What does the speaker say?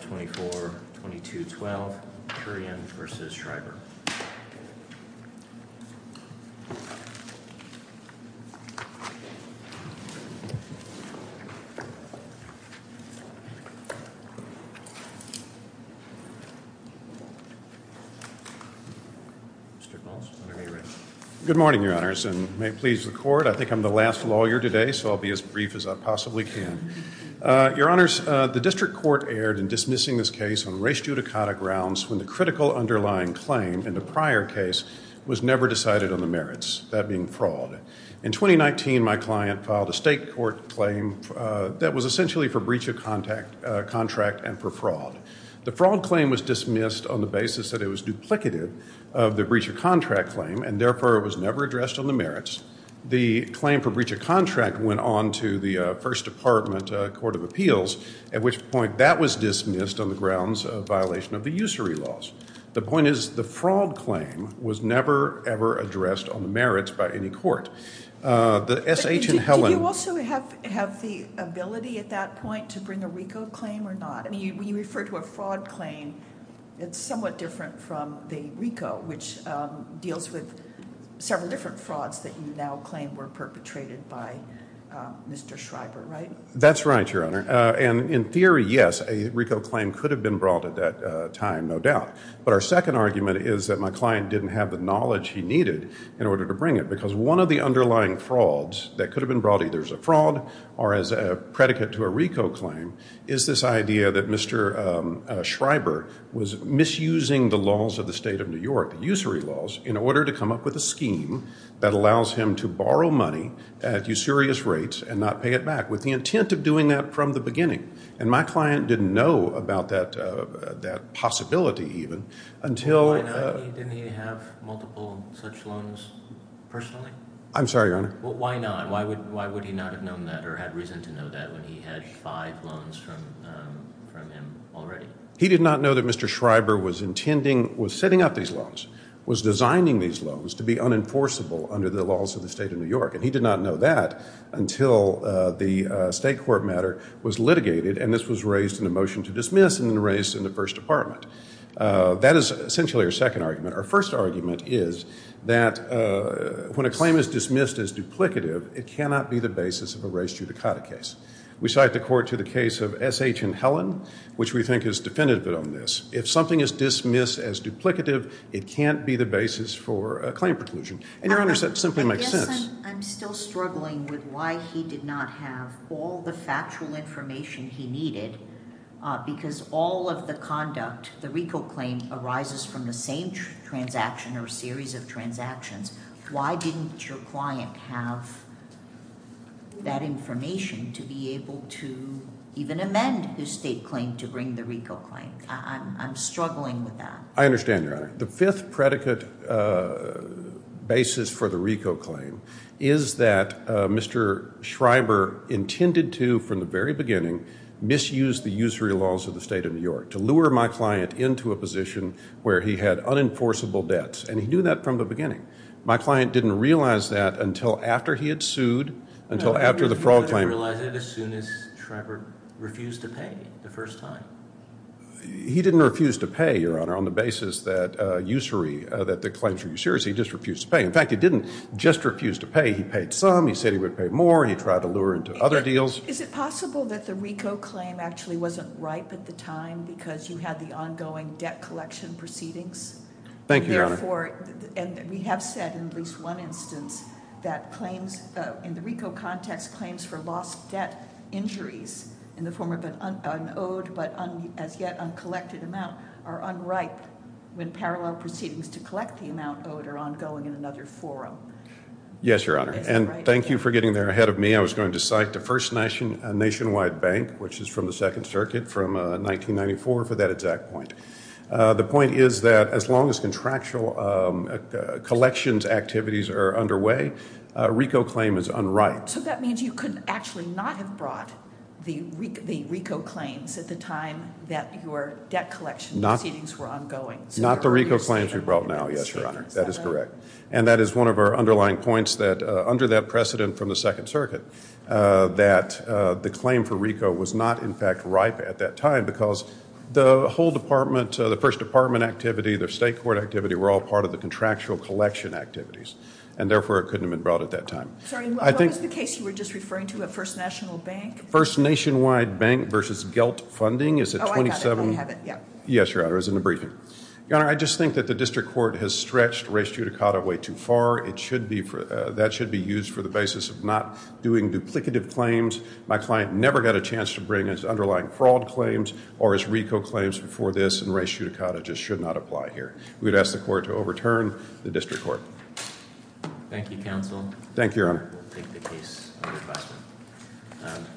Good morning, Your Honors, and may it please the Court, I think I'm the last lawyer today so I'll be as brief as I possibly can. Your Honors, the District Court erred in dismissing this case on race judicata grounds when the critical underlying claim in the prior case was never decided on the merits, that being fraud. In 2019, my client filed a state court claim that was essentially for breach of contract and for fraud. The fraud claim was dismissed on the basis that it was duplicative of the breach of contract claim and therefore it was never addressed on the merits. The claim for breach of contract went on to the First Department Court of Appeals, at which point that was dismissed on the grounds of violation of the usury laws. The point is the fraud claim was never, ever addressed on the merits by any court. Did you also have the ability at that point to bring a RICO claim or not? I mean, when you refer to a fraud claim, it's somewhat different from the RICO, which deals with several different frauds that you now claim were perpetrated by Mr. Schreiber, right? That's right, Your Honor. And in theory, yes, a RICO claim could have been brought at that time, no doubt. But our second argument is that my client didn't have the knowledge he needed in order to bring it because one of the underlying frauds that could have been brought either as a fraud or as a predicate to a RICO claim is this idea that Mr. Schreiber was misusing the laws of the state of New York, the usury laws, in order to come up with a scheme that allows him to borrow money at usurious rates and not pay it back with the intent of doing that from the beginning. And my client didn't know about that possibility even until… Why not? Didn't he have multiple such loans personally? I'm sorry, Your Honor. Why not? Why would he not have known that or had reason to know that when he had five loans from him already? He did not know that Mr. Schreiber was setting up these loans, was designing these loans to be unenforceable under the laws of the state of New York. And he did not know that until the state court matter was litigated and this was raised in a motion to dismiss and then raised in the first department. That is essentially our second argument. Our first argument is that when a claim is dismissed as duplicative, it cannot be the basis of a race judicata case. We cite the court to the case of S.H. and Helen, which we think is definitive on this. If something is dismissed as duplicative, it can't be the basis for a claim preclusion. And, Your Honor, that simply makes sense. I guess I'm still struggling with why he did not have all the factual information he needed because all of the conduct, the RICO claim, arises from the same transaction or series of transactions. Why didn't your client have that information to be able to even amend his state claim to bring the RICO claim? I'm struggling with that. I understand, Your Honor. The fifth predicate basis for the RICO claim is that Mr. Schreiber intended to, from the very beginning, misuse the usury laws of the state of New York to lure my client into a position where he had unenforceable debts. And he knew that from the beginning. My client didn't realize that until after he had sued, until after the fraud claim. No, I mean, he wouldn't realize it as soon as Schreiber refused to pay the first time. He didn't refuse to pay, Your Honor, on the basis that the claims were usury. He just refused to pay. In fact, he didn't just refuse to pay. He paid some. He said he would pay more. He tried to lure into other deals. Is it possible that the RICO claim actually wasn't ripe at the time because you had the ongoing debt collection proceedings? Thank you, Your Honor. And we have said in at least one instance that claims in the RICO context claims for lost debt injuries in the form of an owed but as yet uncollected amount are unripe when parallel proceedings to collect the amount owed are ongoing in another forum. Yes, Your Honor. And thank you for getting there ahead of me. I was going to cite the First Nationwide Bank, which is from the Second Circuit, from 1994 for that exact point. The point is that as long as contractual collections activities are underway, a RICO claim is unripe. So that means you could actually not have brought the RICO claims at the time that your debt collection proceedings were ongoing. Not the RICO claims we brought now, yes, Your Honor. That is correct. And that is one of our underlying points that under that precedent from the Second Circuit that the claim for RICO was not, in fact, ripe at that time because the whole department, the First Department activity, the state court activity were all part of the contractual collection activities. And, therefore, it couldn't have been brought at that time. What was the case you were just referring to at First National Bank? First Nationwide Bank versus GELT funding. Oh, I got it. Yes, Your Honor. It was in the briefing. Your Honor, I just think that the district court has stretched res judicata way too far. That should be used for the basis of not doing duplicative claims. My client never got a chance to bring his underlying fraud claims or his RICO claims before this, and res judicata just should not apply here. We would ask the court to overturn the district court. Thank you, counsel. Thank you, Your Honor. We'll take the case under question.